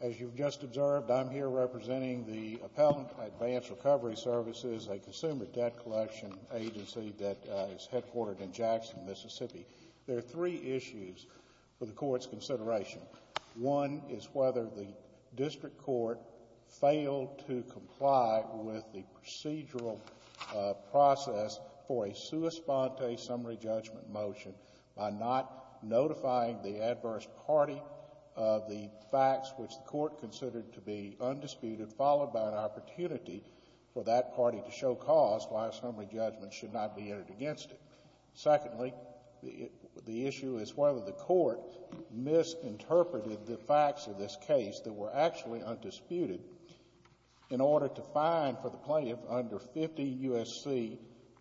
As you've just observed, I'm here representing the Appellant Advanced Recovery Services, a consumer debt collection agency that is headquartered in Jackson, Mississippi. There are three issues for the Court's consideration. One is whether the district court failed to comply with the procedural process for a sua sponte summary judgment motion by not notifying the adverse party of the facts which the Court considered to be undisputed, followed by an opportunity for that party to show cause why a summary judgment should not be entered against it. Secondly, the issue is whether the Court misinterpreted the facts of this case that were actually undisputed in order to fine for the plaintiff under 50 U.S.C.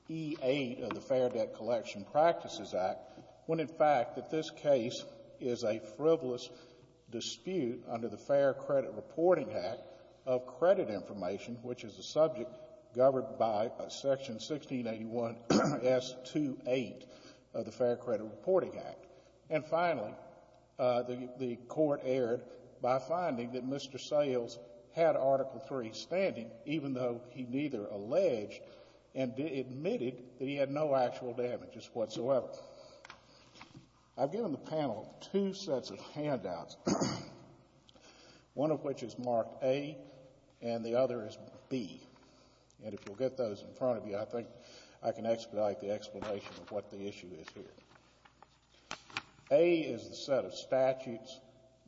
E-8 of the Fair Debt Collection Practices Act, when in fact that this case is a frivolous dispute under the Fair Credit Reporting Act of credit information, which is a subject governed by Section 1681 S-2-8 of the Fair Credit Reporting Act. And finally, the Court erred by finding that Mr. Sayles had Article III standing, even though he neither alleged and admitted that he had no actual damages whatsoever. I've given the panel two sets of handouts, one of which is marked A and the other is B. And if you'll get those in front of you, I think I can expedite the explanation of what the issue is here. A is the set of statutes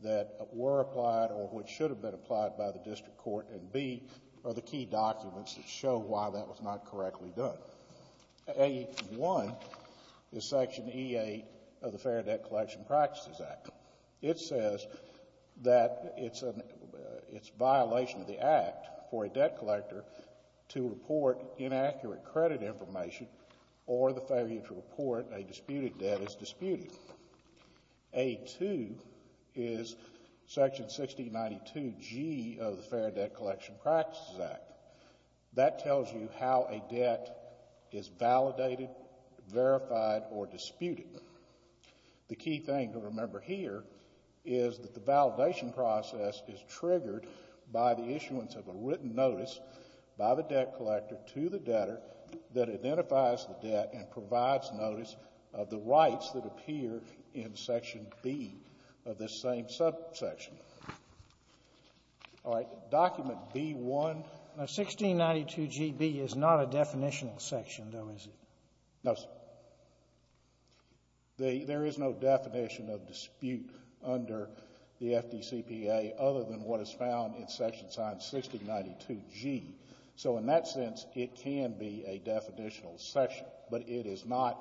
that were applied or which should have been applied by the district court, and B are the key documents that show why that was not correctly done. A-1 is Section E-8 of the Fair Debt Collection Practices Act. It says that it's a violation of the act for a debt collector to report inaccurate credit information or the failure to report a disputed debt as disputed. A-2 is Section 1692 G of the Fair Debt Collection Practices Act. That tells you how a debt is validated, verified, or disputed. The key thing to remember here is that the validation process is triggered by the issuance of a written notice by the debt collector to the debtor that identifies the debt and provides notice of the rights that appear in Section B of this same subsection. All right. Document B-1. Now, 1692 G.B. is not a definitional section, though, is it? No, sir. There is no definition of dispute under the FDCPA other than what is found in Section 1692 G. So, in that sense, it can be a definitional section, but it is not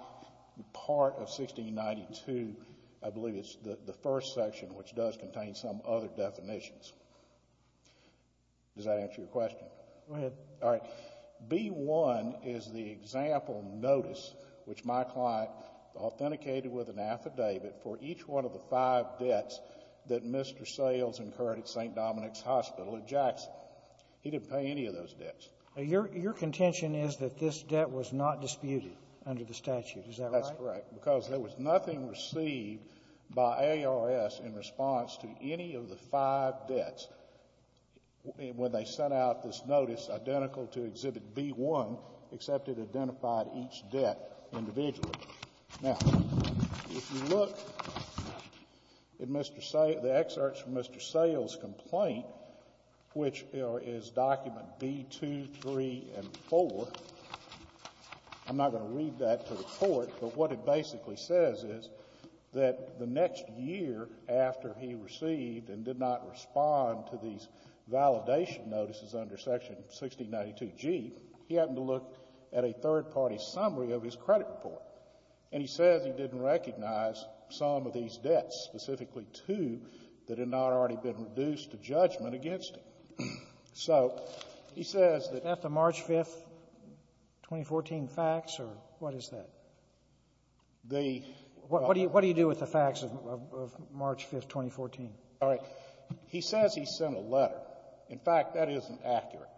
part of 1692. I believe it's the first section, which does contain some other definitions. Does that answer your question? Go ahead. All right. B-1 is the example notice which my client authenticated with an affidavit for each one of the five debts that Mr. Sales incurred at St. Dominic's Hospital in Jackson. He didn't pay any of those debts. Your contention is that this debt was not disputed under the statute. Is that right? That's correct, because there was nothing received by ARS in response to any of the five debts. When they sent out this notice identical to Exhibit B-1, except it identified each debt individually. Now, if you look at the excerpts from Mr. Sales' complaint, which is document B-2, 3, and 4, I'm not going to read that to the Court, but what it basically says is that the next year after he received and did not respond to these validation notices under Section 1692G, he happened to look at a third-party summary of his credit report. And he says he didn't recognize some of these debts, specifically two, that had not already been reduced to judgment against him. So he says that — The — What do you do with the facts of March 5th, 2014? All right. He says he sent a letter. In fact, that isn't accurate.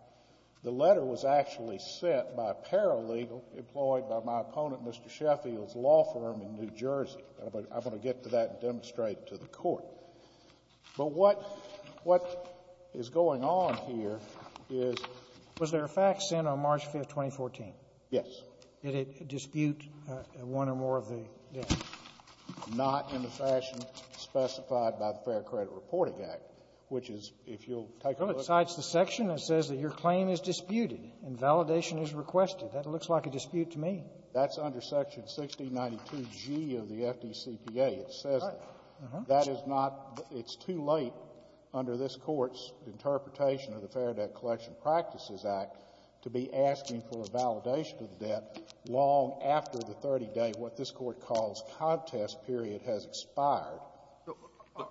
The letter was actually sent by a paralegal employed by my opponent, Mr. Sheffield's law firm in New Jersey. I'm going to get to that and demonstrate it to the Court. But what — what is going on here is — Was there a fact sent on March 5th, 2014? Yes. Did it dispute one or more of the debts? Not in the fashion specified by the Fair Credit Reporting Act, which is, if you'll take a look — Well, it cites the section that says that your claim is disputed and validation is requested. That looks like a dispute to me. That's under Section 1692G of the FDCPA. It says that. Uh-huh. That is not — it's too late under this Court's interpretation of the Fair Debt Collection Practices Act to be asking for a validation of the debt long after the 30-day what this Court calls contest period has expired. So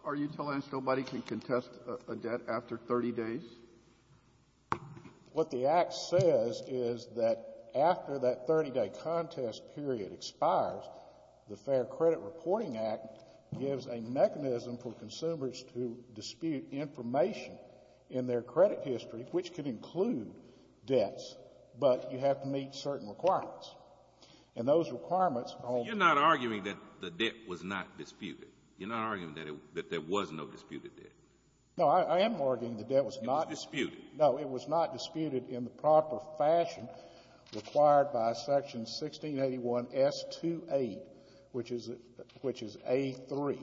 are you telling us nobody can contest a debt after 30 days? What the Act says is that after that 30-day contest period expires, the Fair Credit Reporting Act gives a mechanism for consumers to dispute information in their credit history, which could include debts, but you have to meet certain requirements. And those requirements — You're not arguing that the debt was not disputed. You're not arguing that there was no disputed debt. No, I am arguing the debt was not — It was disputed. No, it was not disputed in the proper fashion required by Section 1681S2A, which is — which is A3.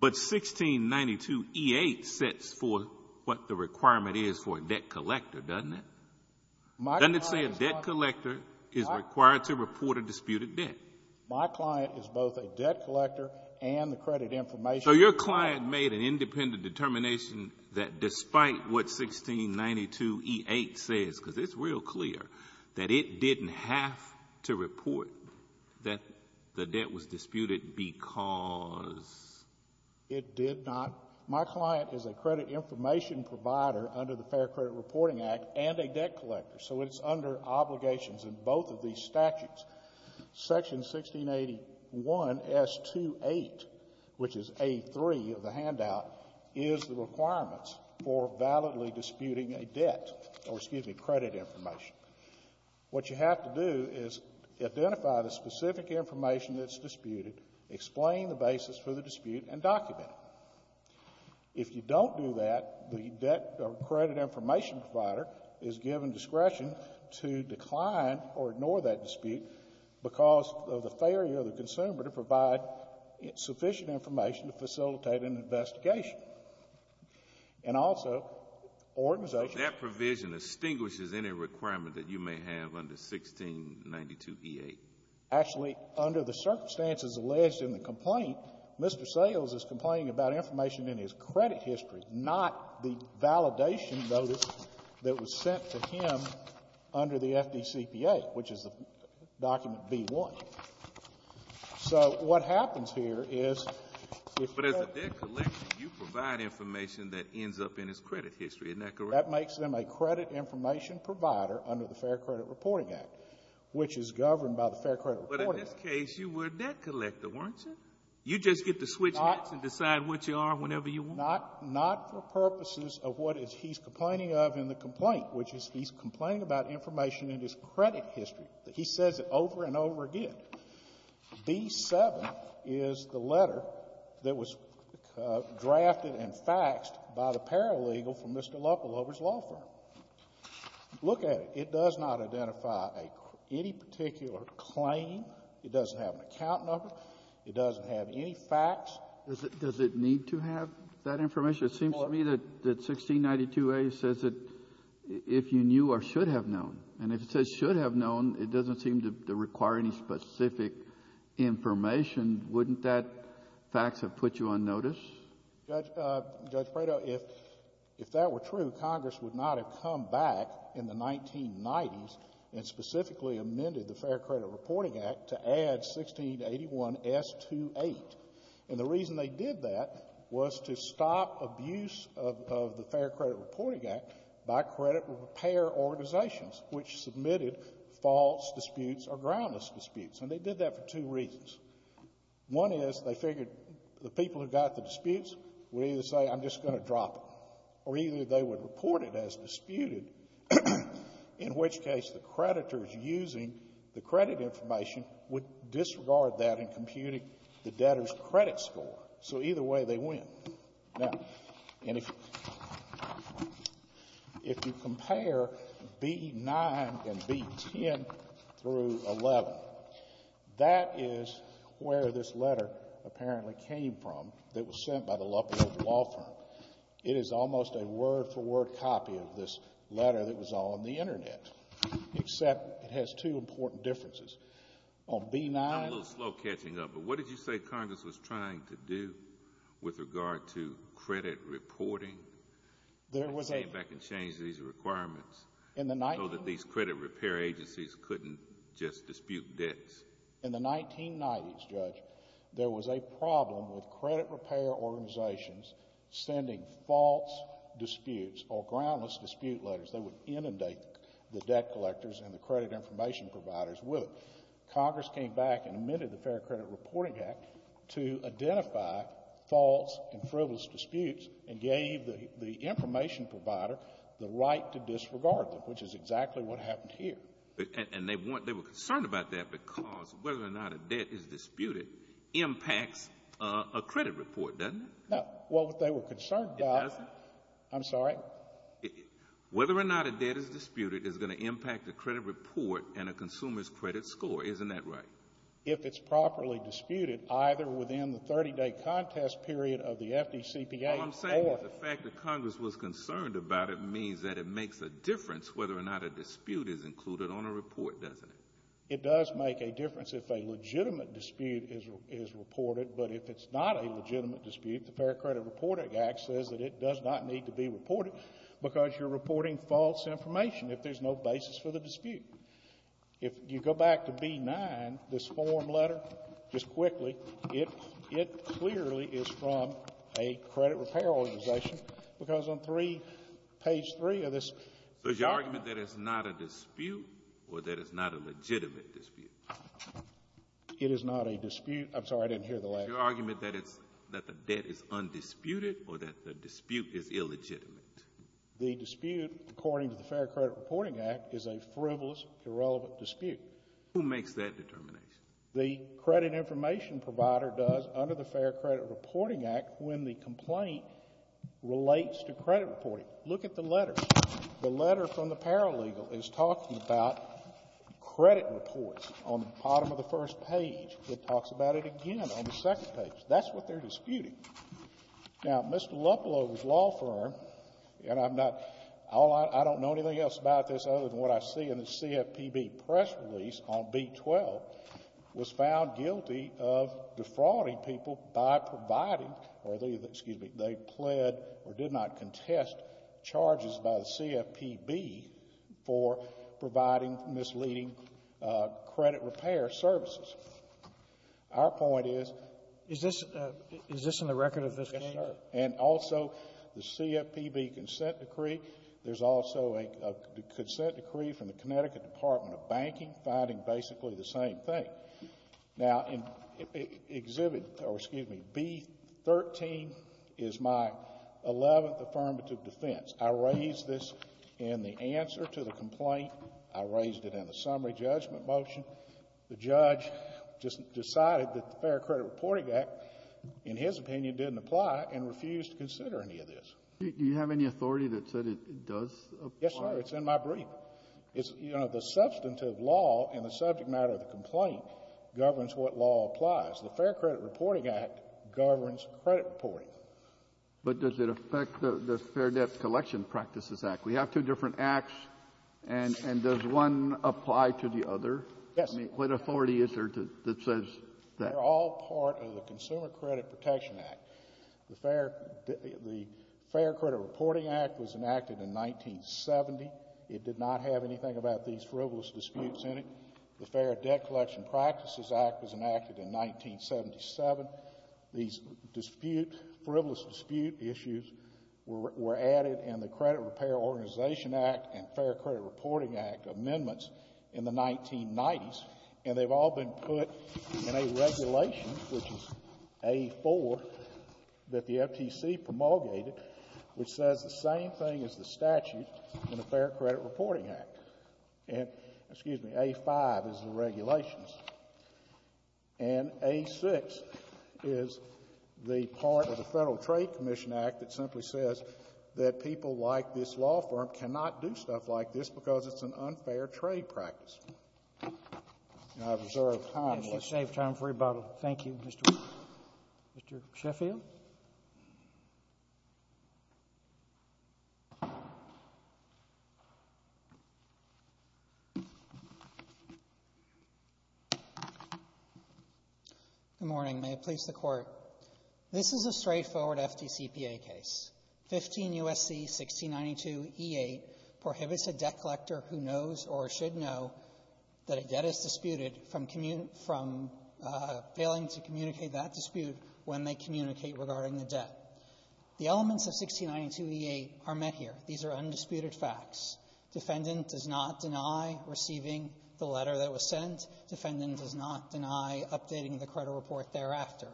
But 1692E8 sets for what the requirement is for a debt collector, doesn't it? Doesn't it say a debt collector is required to report a disputed debt? My client is both a debt collector and the credit information — So your client made an independent determination that despite what 1692E8 says, because it's real clear that it didn't have to report that the debt was disputed because — It did not. My client is a credit information provider under the Fair Credit Reporting Act and a debt collector, so it's under obligations in both of these statutes. Section 1681S2A, which is A3 of the handout, is the requirements for validly disputing a debt or, excuse me, credit information. What you have to do is identify the specific information that's disputed, explain the basis for the dispute, and document it. If you don't do that, the debt or credit information provider is given discretion to decline or ignore that dispute because of the failure of the consumer to provide sufficient information to facilitate an investigation. And also, organizations — That provision extinguishes any requirement that you may have under 1692E8. Actually, under the circumstances alleged in the complaint, Mr. Sales is complaining about information in his credit history, not the validation notice that was sent to him under the FDCPA, which is the document B1. So what happens here is — But as a debt collector, you provide information that ends up in his credit history. Isn't that correct? That makes him a credit information provider under the Fair Credit Reporting Act, which is governed by the Fair Credit Reporting Act. But in this case, you were a debt collector, weren't you? You just get to switch hats and decide what you are whenever you want. Not for purposes of what he's complaining of in the complaint, which is he's complaining about information in his credit history. He says it over and over again. B7 is the letter that was drafted and faxed by the paralegal from Mr. Lucklover's law firm. Look at it. It does not identify any particular claim. It doesn't have an account number. It doesn't have any facts. Does it need to have that information? It seems to me that 1692A says that if you knew or should have known. And if it says should have known, it doesn't seem to require any specific information. Wouldn't that fax have put you on notice? Judge Prado, if that were true, Congress would not have come back in the 1990s and specifically amended the Fair Credit Reporting Act to add 1681S28. And the reason they did that was to stop abuse of the Fair Credit Reporting Act by credit repair organizations which submitted false disputes or groundless disputes. And they did that for two reasons. One is they figured the people who got the disputes would either say I'm just going to drop it or either they would report it as disputed, in which case the creditors using the credit information would disregard that in computing the debtor's credit score. So either way, they win. Now, if you compare B-9 and B-10 through 11, that is where this letter apparently came from that was sent by the Lutheran Law Firm. It is almost a word-for-word copy of this letter that was on the Internet, except it has two important differences. On B-9... I'm a little slow catching up, but what did you say Congress was trying to do with regard to credit reporting? They came back and changed these requirements so that these credit repair agencies couldn't just dispute debts. In the 1990s, Judge, there was a problem with credit repair organizations sending false disputes or groundless dispute letters. They would inundate the debt collectors and the credit information providers with it. Congress came back and amended the Fair Credit Reporting Act to identify false and frivolous disputes and gave the information provider the right to disregard them, which is exactly what happened here. And they were concerned about that because whether or not a debt is disputed impacts a credit report, doesn't it? Well, what they were concerned about... It doesn't? I'm sorry? Whether or not a debt is disputed is going to impact the credit report and a consumer's credit score, isn't that right? If it's properly disputed, either within the 30-day contest period of the FDCPA... All I'm saying is the fact that Congress was concerned about it means that it makes a difference whether or not a dispute is included on a report, doesn't it? It does make a difference if a legitimate dispute is reported, but if it's not a legitimate dispute, the Fair Credit Reporting Act says that it does not need to be reported because you're reporting false information if there's no basis for the dispute. If you go back to B-9, this form letter, just quickly, it clearly is from a credit repair organization because on page 3 of this... So is your argument that it's not a dispute or that it's not a legitimate dispute? It is not a dispute. I'm sorry, I didn't hear the last part. Is your argument that the debt is undisputed or that the dispute is illegitimate? The dispute, according to the Fair Credit Reporting Act, is a frivolous, irrelevant dispute. Who makes that determination? The credit information provider does under the Fair Credit Reporting Act when the complaint relates to credit reporting. Look at the letter. The letter from the paralegal is talking about credit reports. On the bottom of the first page, it talks about it again on the second page. That's what they're disputing. Now, Mr. Luplo's law firm, and I'm not... I don't know anything else about this other than what I see in the CFPB press release on B-12, was found guilty of defrauding people by providing... or they pled or did not contest charges by the CFPB for providing misleading credit repair services. Our point is... Is this in the record of this case? Yes, sir. And also, the CFPB consent decree. There's also a consent decree from the Connecticut Department of Banking finding basically the same thing. Now, exhibit, or excuse me, B-13 is my 11th affirmative defense. I raised this in the answer to the complaint. I raised it in the summary judgment motion. The judge just decided that the Fair Credit Reporting Act, in his opinion, didn't apply and refused to consider any of this. Do you have any authority that said it does apply? Yes, sir. It's in my brief. You know, the substantive law in the subject matter of the complaint governs what law applies. The Fair Credit Reporting Act governs credit reporting. But does it affect the Fair Debt Collection Practices Act? We have two different acts, and does one apply to the other? Yes, sir. I mean, what authority is there that says that? They're all part of the Consumer Credit Protection Act. The Fair Credit Reporting Act was enacted in 1970. It did not have anything about these frivolous disputes in it. The Fair Debt Collection Practices Act was enacted in 1977. These frivolous dispute issues were added in the Credit Repair Organization Act and Fair Credit Reporting Act amendments in the 1990s, and they've all been put in a regulation, which is A-4, that the FTC promulgated, which says the same thing as the statute in the Fair Credit Reporting Act. Excuse me, A-5 is the regulations. And A-6 is the part of the Federal Trade Commission Act that simply says that people like this law firm cannot do stuff like this because it's an unfair trade practice. And I've reserved time. Let's save time for rebuttal. Thank you, Mr. Wheeler. Mr. Sheffield? Good morning. May it please the Court. This is a straightforward FDCPA case. 15 U.S.C. 1692e8 prohibits a debt collector who knows or should know that a debt is disputed from failing to communicate that dispute when they communicate regarding the debt. The elements of 1692e8 are met here. These are undisputed facts. Defendant does not deny receiving the letter that was sent. Defendant does not deny updating the credit report thereafter.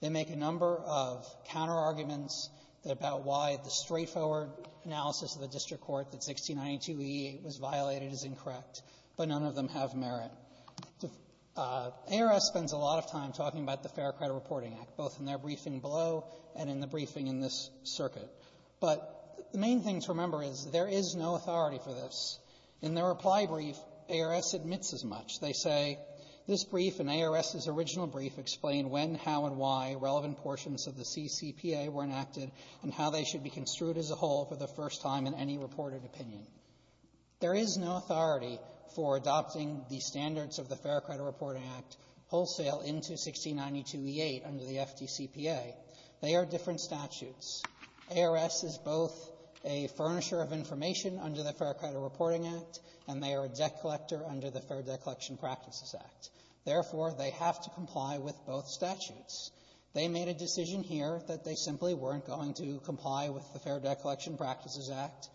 They make a number of counterarguments about why the straightforward analysis of the district court that 1692e8 was violated is incorrect, but none of them have merit. ARS spends a lot of time talking about the Fair Credit Reporting Act, both in their briefing below and in the briefing in this circuit. But the main thing to remember is there is no authority for this. In their reply brief, ARS admits as much. They say, this brief and ARS's original brief explain when, how, and why relevant portions of the CCPA were enacted and how they should be construed as a whole for the first time in any reported opinion. There is no authority for adopting the standards of the Fair Credit Reporting Act wholesale into 1692e8 under the FDCPA. They are different statutes. ARS is both a furnisher of information under the Fair Credit Reporting Act and they are a debt collector under the Fair Debt Collection Practices Act. Therefore, they have to comply with both statutes. They made a decision here that they simply weren't going to comply with the Fair Debt Collection Practices Act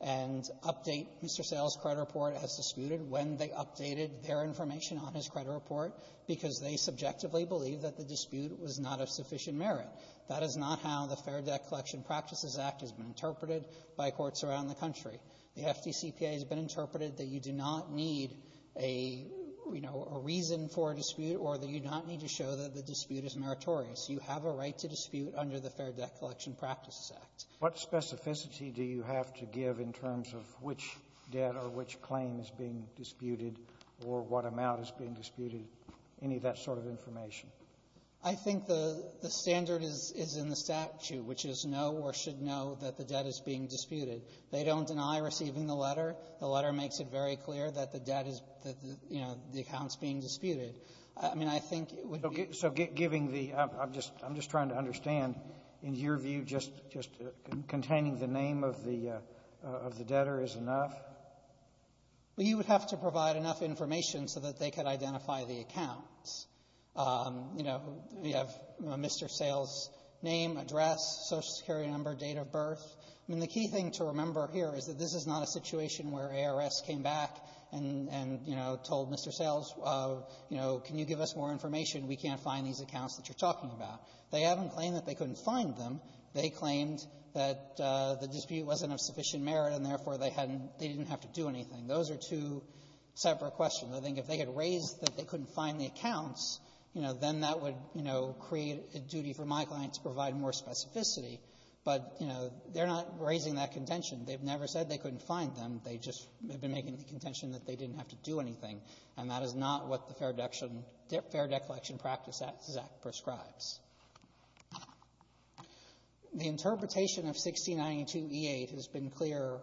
and update Mr. Sale's credit report as disputed when they updated their information on his credit report because they subjectively believe that the dispute was not of sufficient merit. That is not how the Fair Debt Collection Practices Act has been interpreted by courts around the country. The FDCPA has been interpreted that you do not need a, you know, a reason for a dispute or that you do not need to show that the dispute is meritorious. You have a right to dispute under the Fair Debt Collection Practices Act. Sotomayor, what specificity do you have to give in terms of which debt or which claim is being disputed or what amount is being disputed, any of that sort of information? I think the standard is in the statute, which is know or should know that the debt is being disputed. They don't deny receiving the letter. The letter makes it very clear that the debt is, you know, the account is being disputed. I mean, I think it would be ---- So giving the ---- I'm just trying to understand. In your view, just containing the name of the debtor is enough? You would have to provide enough information so that they could identify the accounts. You know, you have Mr. Sales' name, address, Social Security number, date of birth. I mean, the key thing to remember here is that this is not a situation where ARS came back and, you know, told Mr. Sales, you know, can you give us more information? We can't find these accounts that you're talking about. They haven't claimed that they couldn't find them. They claimed that the dispute wasn't of sufficient merit and, therefore, they hadn't they didn't have to do anything. Those are two separate questions. I think if they had raised that they couldn't find the accounts, you know, then that would, you know, create a duty for my client to provide more specificity. But, you know, they're not raising that contention. They've never said they couldn't find them. They just have been making the contention that they didn't have to do anything, and that is not what the Fair Declaration Practice Act prescribes. The interpretation of 1692e8 has been clear,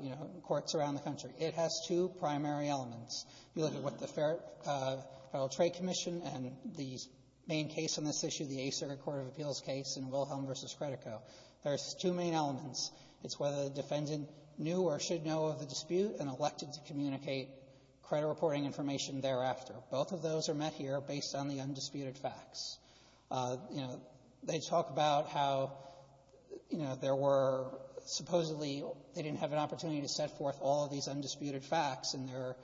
you know, in courts around the country. It has two primary elements. You look at what the Federal Trade Commission and the main case on this issue, the Eighth Circuit Court of Appeals case in Wilhelm v. Credico. There's two main elements. It's whether the defendant knew or should know of the dispute and elected to communicate credit reporting information thereafter. Both of those are met here based on the undisputed facts. You know, they talk about how, you know, there were supposedly they didn't have an opportunity to set forth all of these undisputed facts in their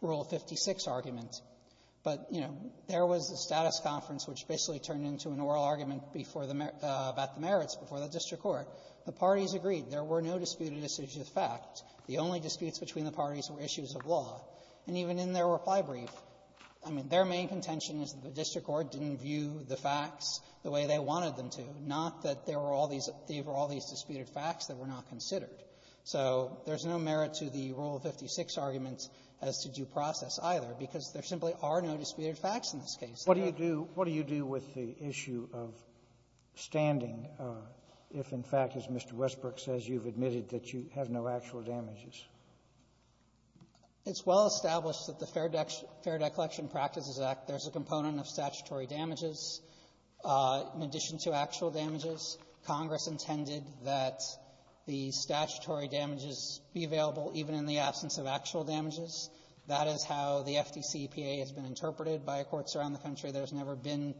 Rule 56 argument. But, you know, there was a status conference which basically turned into an oral argument before the merit – about the merits before the district court. The parties agreed. There were no disputed decisions of fact. The only disputes between the parties were issues of law. And even in their reply brief, I mean, their main contention is that the district court didn't view the facts the way they wanted them to, not that there were all these – there were all these disputed facts that were not considered. So there's no merit to the Rule 56 arguments as to due process, either, because there simply are no disputed facts in this case. Sotomayor, what do you do with the issue of standing if, in fact, as Mr. Westbrook says, you've admitted that you have no actual damages? It's well established that the Fair Declaration Practices Act, there's a component of statutory damages in addition to actual damages. Congress intended that the statutory damages be available even in the absence of actual damages. That is how the FDCPA has been interpreted by courts around the country. There's never been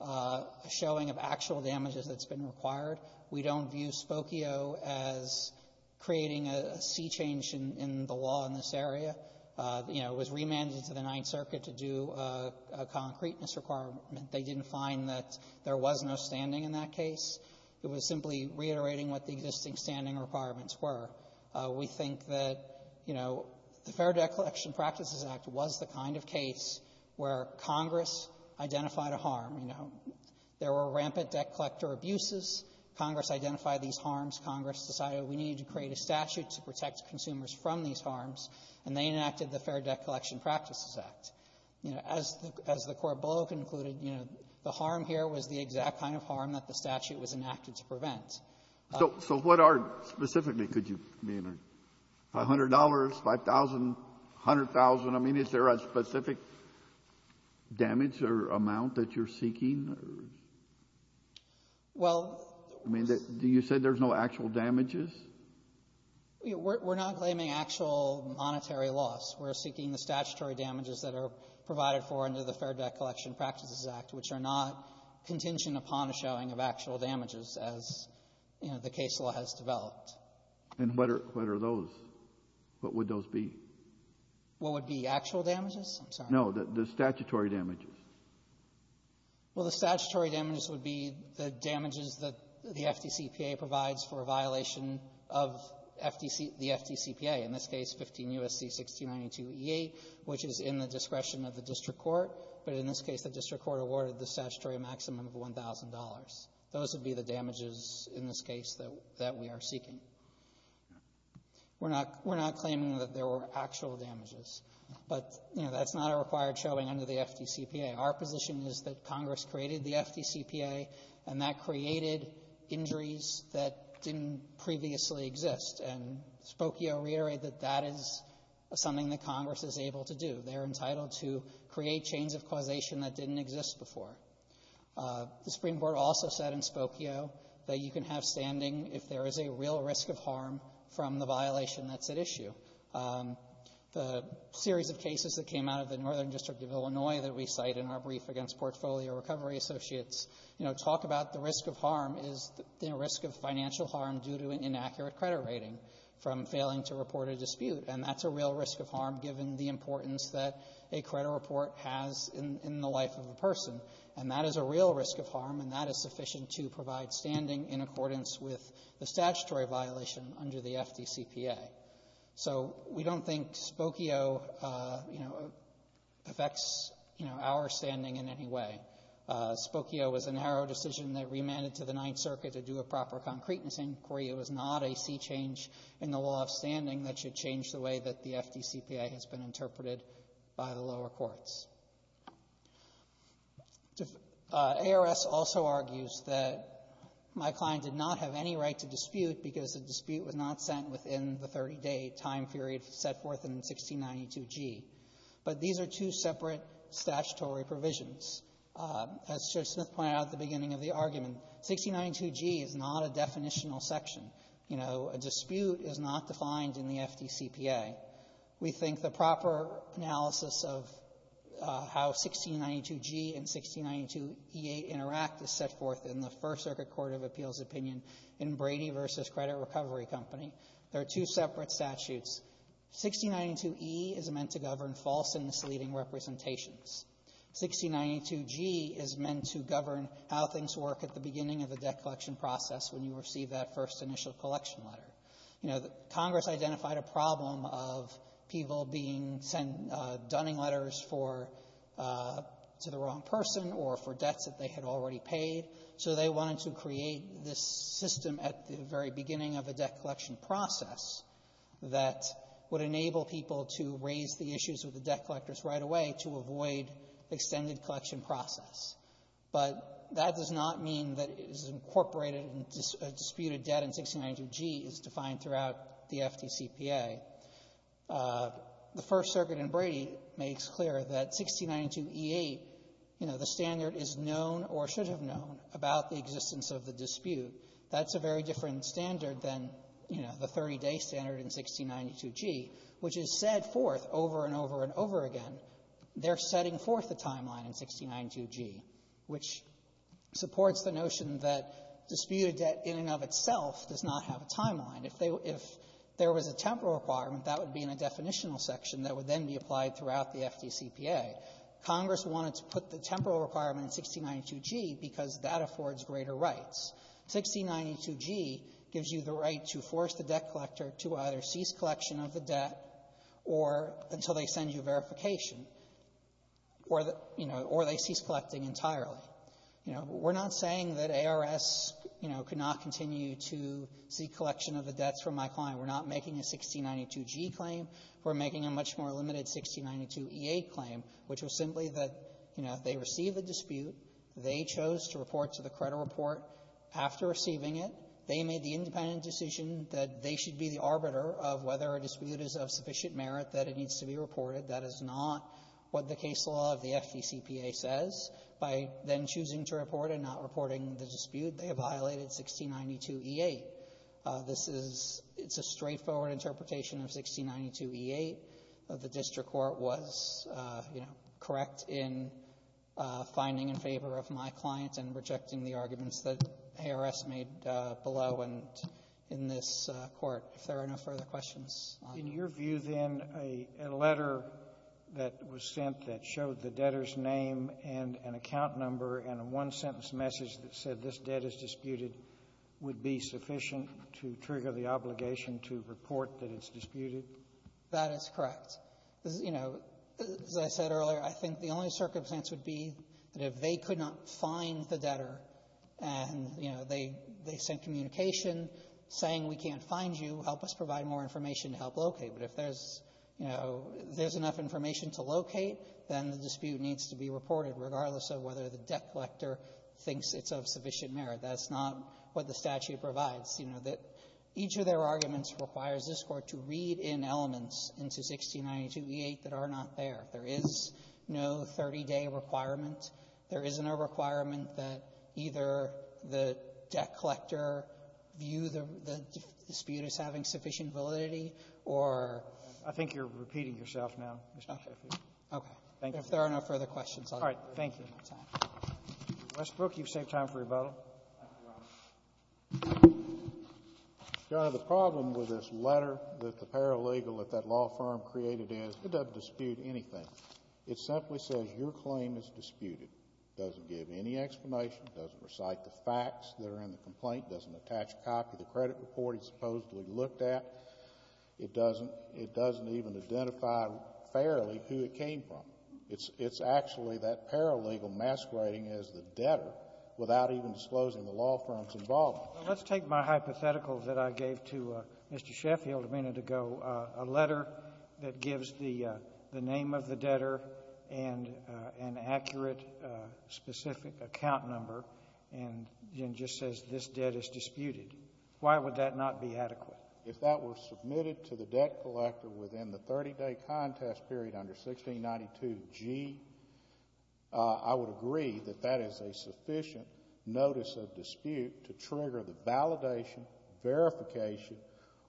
a showing of actual damages that's been required. We don't view Spokio as creating a sea change in the law in this area. You know, it was remanded to the Ninth Circuit to do a concreteness requirement. They didn't find that there was no standing in that case. It was simply reiterating what the existing standing requirements were. We think that, you know, the Fair Declaration Practices Act was the kind of case where Congress identified a harm. You know, there were rampant debt collector abuses. Congress identified these harms. Congress decided we needed to create a statute to protect consumers from these harms, and they enacted the Fair Debt Collection Practices Act. You know, as the court below concluded, you know, the harm here was the exact kind of harm that the statute was enacted to prevent. So what are specifically, could you, I mean, $500, $5,000, $100,000? I mean, is there a specific damage or amount that you're seeking or? Well. I mean, do you say there's no actual damages? We're not claiming actual monetary loss. We're seeking the statutory damages that are provided for under the Fair Debt Collection Practices Act, which are not contingent upon a showing of actual damages as, you know, the case law has developed. And what are those? What would those be? What would be actual damages? I'm sorry. No. The statutory damages. Well, the statutory damages would be the damages that the FDCPA provides for a violation of FDC, the FDCPA. In this case, 15 U.S.C. 1692e8, which is in the discretion of the district court. But in this case, the district court awarded the statutory maximum of $1,000. Those would be the damages in this case that we are seeking. We're not claiming that there were actual damages. But, you know, that's not a required showing under the FDCPA. Our position is that Congress created the FDCPA, and that created injuries that didn't previously exist. And Spokio reiterated that that is something that Congress is able to do. They're entitled to create chains of causation that didn't exist before. The Supreme Court also said in Spokio that you can have standing if there is a real risk of harm from the violation that's at issue. The series of cases that came out of the Northern District of Illinois that we cite in our brief against Portfolio Recovery Associates, you know, talk about the risk of harm is the risk of financial harm due to an inaccurate credit rating from failing to report a dispute. And that's a real risk of harm given the importance that a credit report has in the life of a person. And that is a real risk of harm, and that is sufficient to provide standing in accordance with the statutory violation under the FDCPA. So we don't think Spokio, you know, affects, you know, our standing in any way. Spokio was a narrow decision that remanded to the Ninth Circuit to do a proper concreteness inquiry. It was not a sea change in the law of standing that should change the way that the FDCPA has been interpreted by the lower courts. ARS also argues that my client did not have any right to dispute because the dispute was not sent within the 30-day time period set forth in 1692g. But these are two separate statutory provisions. As Judge Smith pointed out at the beginning of the argument, 1692g is not a definitional section. You know, a dispute is not defined in the FDCPA. We think the proper analysis of how 1692g and 1692e8 interact is set forth in the First Circuit Court of Appeals opinion in Brady v. Credit Recovery Company. They are two separate statutes. 1692e is meant to govern false and misleading representations. 1692g is meant to govern how things work at the beginning of the debt collection process when you receive that first initial collection letter. You know, Congress identified a problem of people being sent dunning letters for the wrong person or for debts that they had already paid, so they wanted to create this system at the very beginning of a debt collection process that would enable people to raise the issues with the debt collectors right away to avoid extended collection process. But that does not mean that it is incorporated in a disputed debt in 1692g as defined throughout the FDCPA. The First Circuit in Brady makes clear that 1692e8, you know, the standard is known or should have known about the existence of the dispute. That's a very different standard than, you know, the 30-day standard in 1692g, which is set forth over and over and over again. But they're setting forth the timeline in 1692g, which supports the notion that disputed debt in and of itself does not have a timeline. If there was a temporal requirement, that would be in a definitional section that would then be applied throughout the FDCPA. Congress wanted to put the temporal requirement in 1692g because that affords greater rights. 1692g gives you the right to force the debt collection or the, you know, or they cease collecting entirely. You know, we're not saying that ARS, you know, could not continue to seek collection of the debts from my client. We're not making a 1692g claim. We're making a much more limited 1692e8 claim, which was simply that, you know, they received a dispute. They chose to report to the credit report. After receiving it, they made the independent decision that they should be the arbiter of whether a dispute is of sufficient merit that it needs to be reported. That is not what the case law of the FDCPA says. By then choosing to report and not reporting the dispute, they have violated 1692e8. This is — it's a straightforward interpretation of 1692e8. The district court was, you know, correct in finding in favor of my client and rejecting the arguments that ARS made below and in this court, if there are no further questions. In your view, then, a letter that was sent that showed the debtor's name and an account number and a one-sentence message that said this debt is disputed would be sufficient to trigger the obligation to report that it's disputed? That is correct. You know, as I said earlier, I think the only circumstance would be that if they could not find the debtor and, you know, they sent communication saying we can't find you, help us provide more information to help locate. But if there's, you know, there's enough information to locate, then the dispute needs to be reported, regardless of whether the debt collector thinks it's of sufficient merit. That's not what the statute provides. You know, that each of their arguments requires this Court to read in elements into 1692e8 that are not there. There is no 30-day requirement. There isn't a requirement that either the debt collector view the dispute as having sufficient validity or ---- I think you're repeating yourself now, Mr. Shaffer. Okay. Thank you. If there are no further questions, I'll let you go. All right. Thank you. Westbrook, you've saved time for your bottle. Your Honor, the problem with this letter that the paralegal at that law firm created is it doesn't dispute anything. It simply says your claim is disputed. It doesn't give any explanation. It doesn't recite the facts that are in the complaint. It doesn't attach a copy of the credit report it supposedly looked at. It doesn't even identify fairly who it came from. It's actually that paralegal masquerading as the debtor without even disclosing the law firm's involvement. Well, let's take my hypothetical that I gave to Mr. Sheffield a minute ago, a letter that gives the name of the debtor and an accurate, specific account number and then just says this debt is disputed. Why would that not be adequate? If that were submitted to the debt collector within the 30-day contest period under 1692g, I would agree that that is a sufficient notice of dispute to trigger the validation, verification,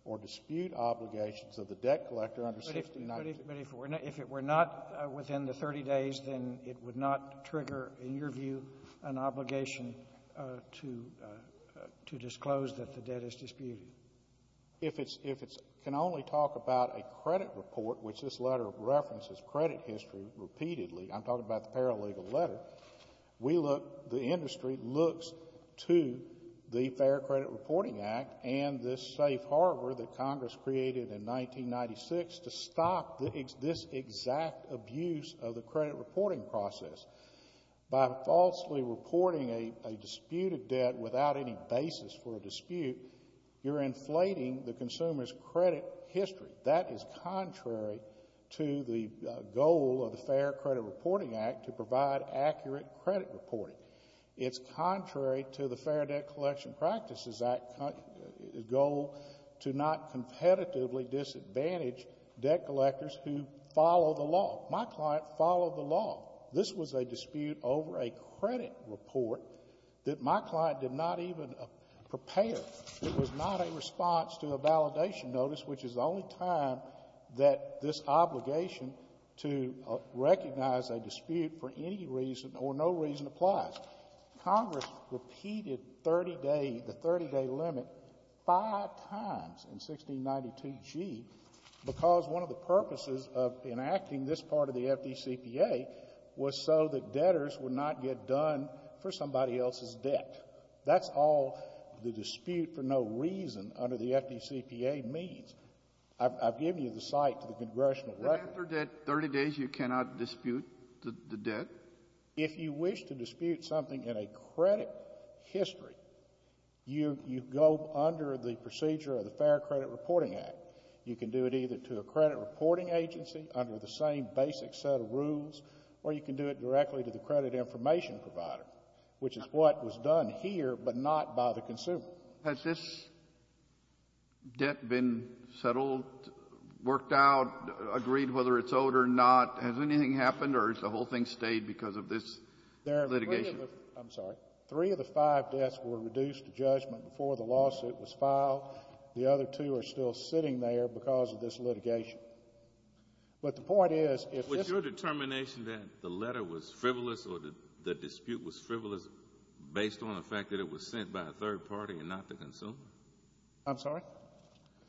or dispute obligations of the debt collector under 1692g. But if it were not within the 30 days, then it would not trigger, in your view, an obligation to disclose that the debt is disputed? If it can only talk about a credit report, which this letter references credit history repeatedly, I'm talking about the paralegal letter, the industry looks to the Fair Credit Reporting Act and this safe harbor that Congress created in 1996 to stop this exact abuse of the credit reporting process. By falsely reporting a disputed debt without any basis for a dispute, you're inflating the consumer's credit history. That is contrary to the goal of the Fair Credit Reporting Act to provide accurate credit reporting. It's contrary to the Fair Debt Collection Practices Act goal to not competitively disadvantage debt collectors who follow the law. My client followed the law. This was a dispute over a credit report that my client did not even prepare. It was not a response to a validation notice, which is the only time that this obligation to recognize a dispute for any reason or no reason applies. Congress repeated the 30-day limit five times in 1692g because one of the purposes of enacting this part of the FDCPA was so that debtors would not get done for somebody else's debt. That's all the dispute for no reason under the FDCPA means. I've given you the site to the Congressional record. But after 30 days, you cannot dispute the debt? If you wish to dispute something in a credit history, you go under the procedure of the Fair Credit Reporting Act. You can do it either to a credit reporting agency under the same basic set of rules, or you can do it directly to the credit information provider, which is what was done here, but not by the consumer. Has this debt been settled, worked out, agreed whether it's owed or not? Has anything happened, or has the whole thing stayed because of this litigation? I'm sorry. Three of the five debts were reduced to judgment before the lawsuit was filed. The other two are still sitting there because of this litigation. But the point is, if this— Was your determination that the letter was frivolous or the dispute was frivolous based on the fact that it was sent by a third party and not the consumer? I'm sorry?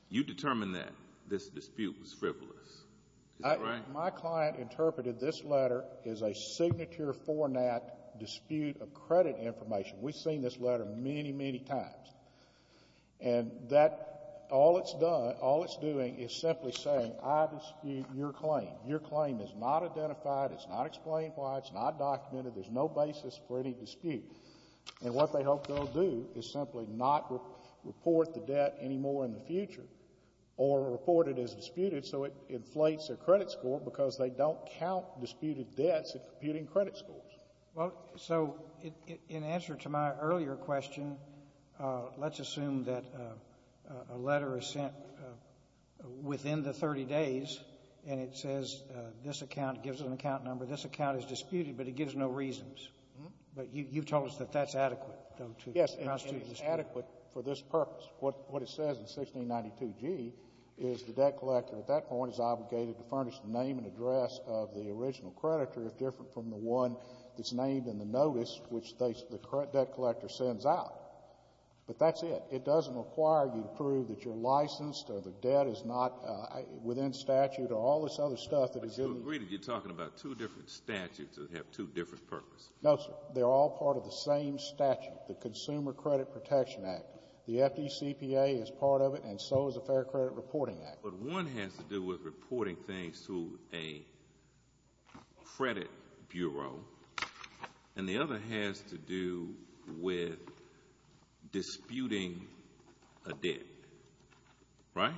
You determined that this dispute was frivolous. Is that right? My client interpreted this letter as a signature format dispute of credit information. We've seen this letter many, many times. And all it's doing is simply saying, I dispute your claim. Your claim is not identified. It's not explained why. It's not documented. There's no basis for any dispute. And what they hope they'll do is simply not report the debt anymore in the future or report it as disputed so it inflates their credit score because they don't count disputed debts in computing credit scores. Well, so in answer to my earlier question, let's assume that a letter is sent within the 30 days and it says this account gives an account number. This account is disputed, but it gives no reasons. But you've told us that that's adequate, though, to constitute a dispute. Yes, and it's adequate for this purpose. What it says in 1692G is the debt collector at that point is obligated to furnish the name and address of the original creditor, if different from the one that's named in the notice, which the debt collector sends out. But that's it. It doesn't require you to prove that you're licensed or the debt is not within statute or all this other stuff that is given. But you agreed that you're talking about two different statutes that have two different purposes. No, sir. They're all part of the same statute, the Consumer Credit Protection Act. The FDCPA is part of it, and so is the Fair Credit Reporting Act. But one has to do with reporting things to a credit bureau, and the other has to do with disputing a debt, right?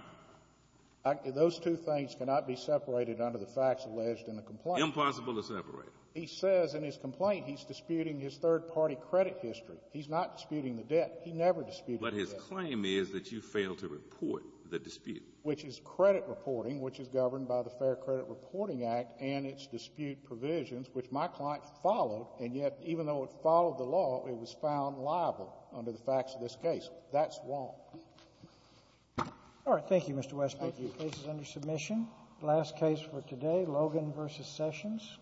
Those two things cannot be separated under the facts alleged in the complaint. Impossible to separate. He says in his complaint he's disputing his third-party credit history. He's not disputing the debt. He never disputed the debt. But his claim is that you failed to report the dispute. Which is credit reporting, which is governed by the Fair Credit Reporting Act and its dispute provisions, which my client followed, and yet even though it followed the law, it was found liable under the facts of this case. That's wrong. All right. Thank you, Mr. Westbrook. Thank you. The case is under submission. The last case for today, Logan v. Sessions.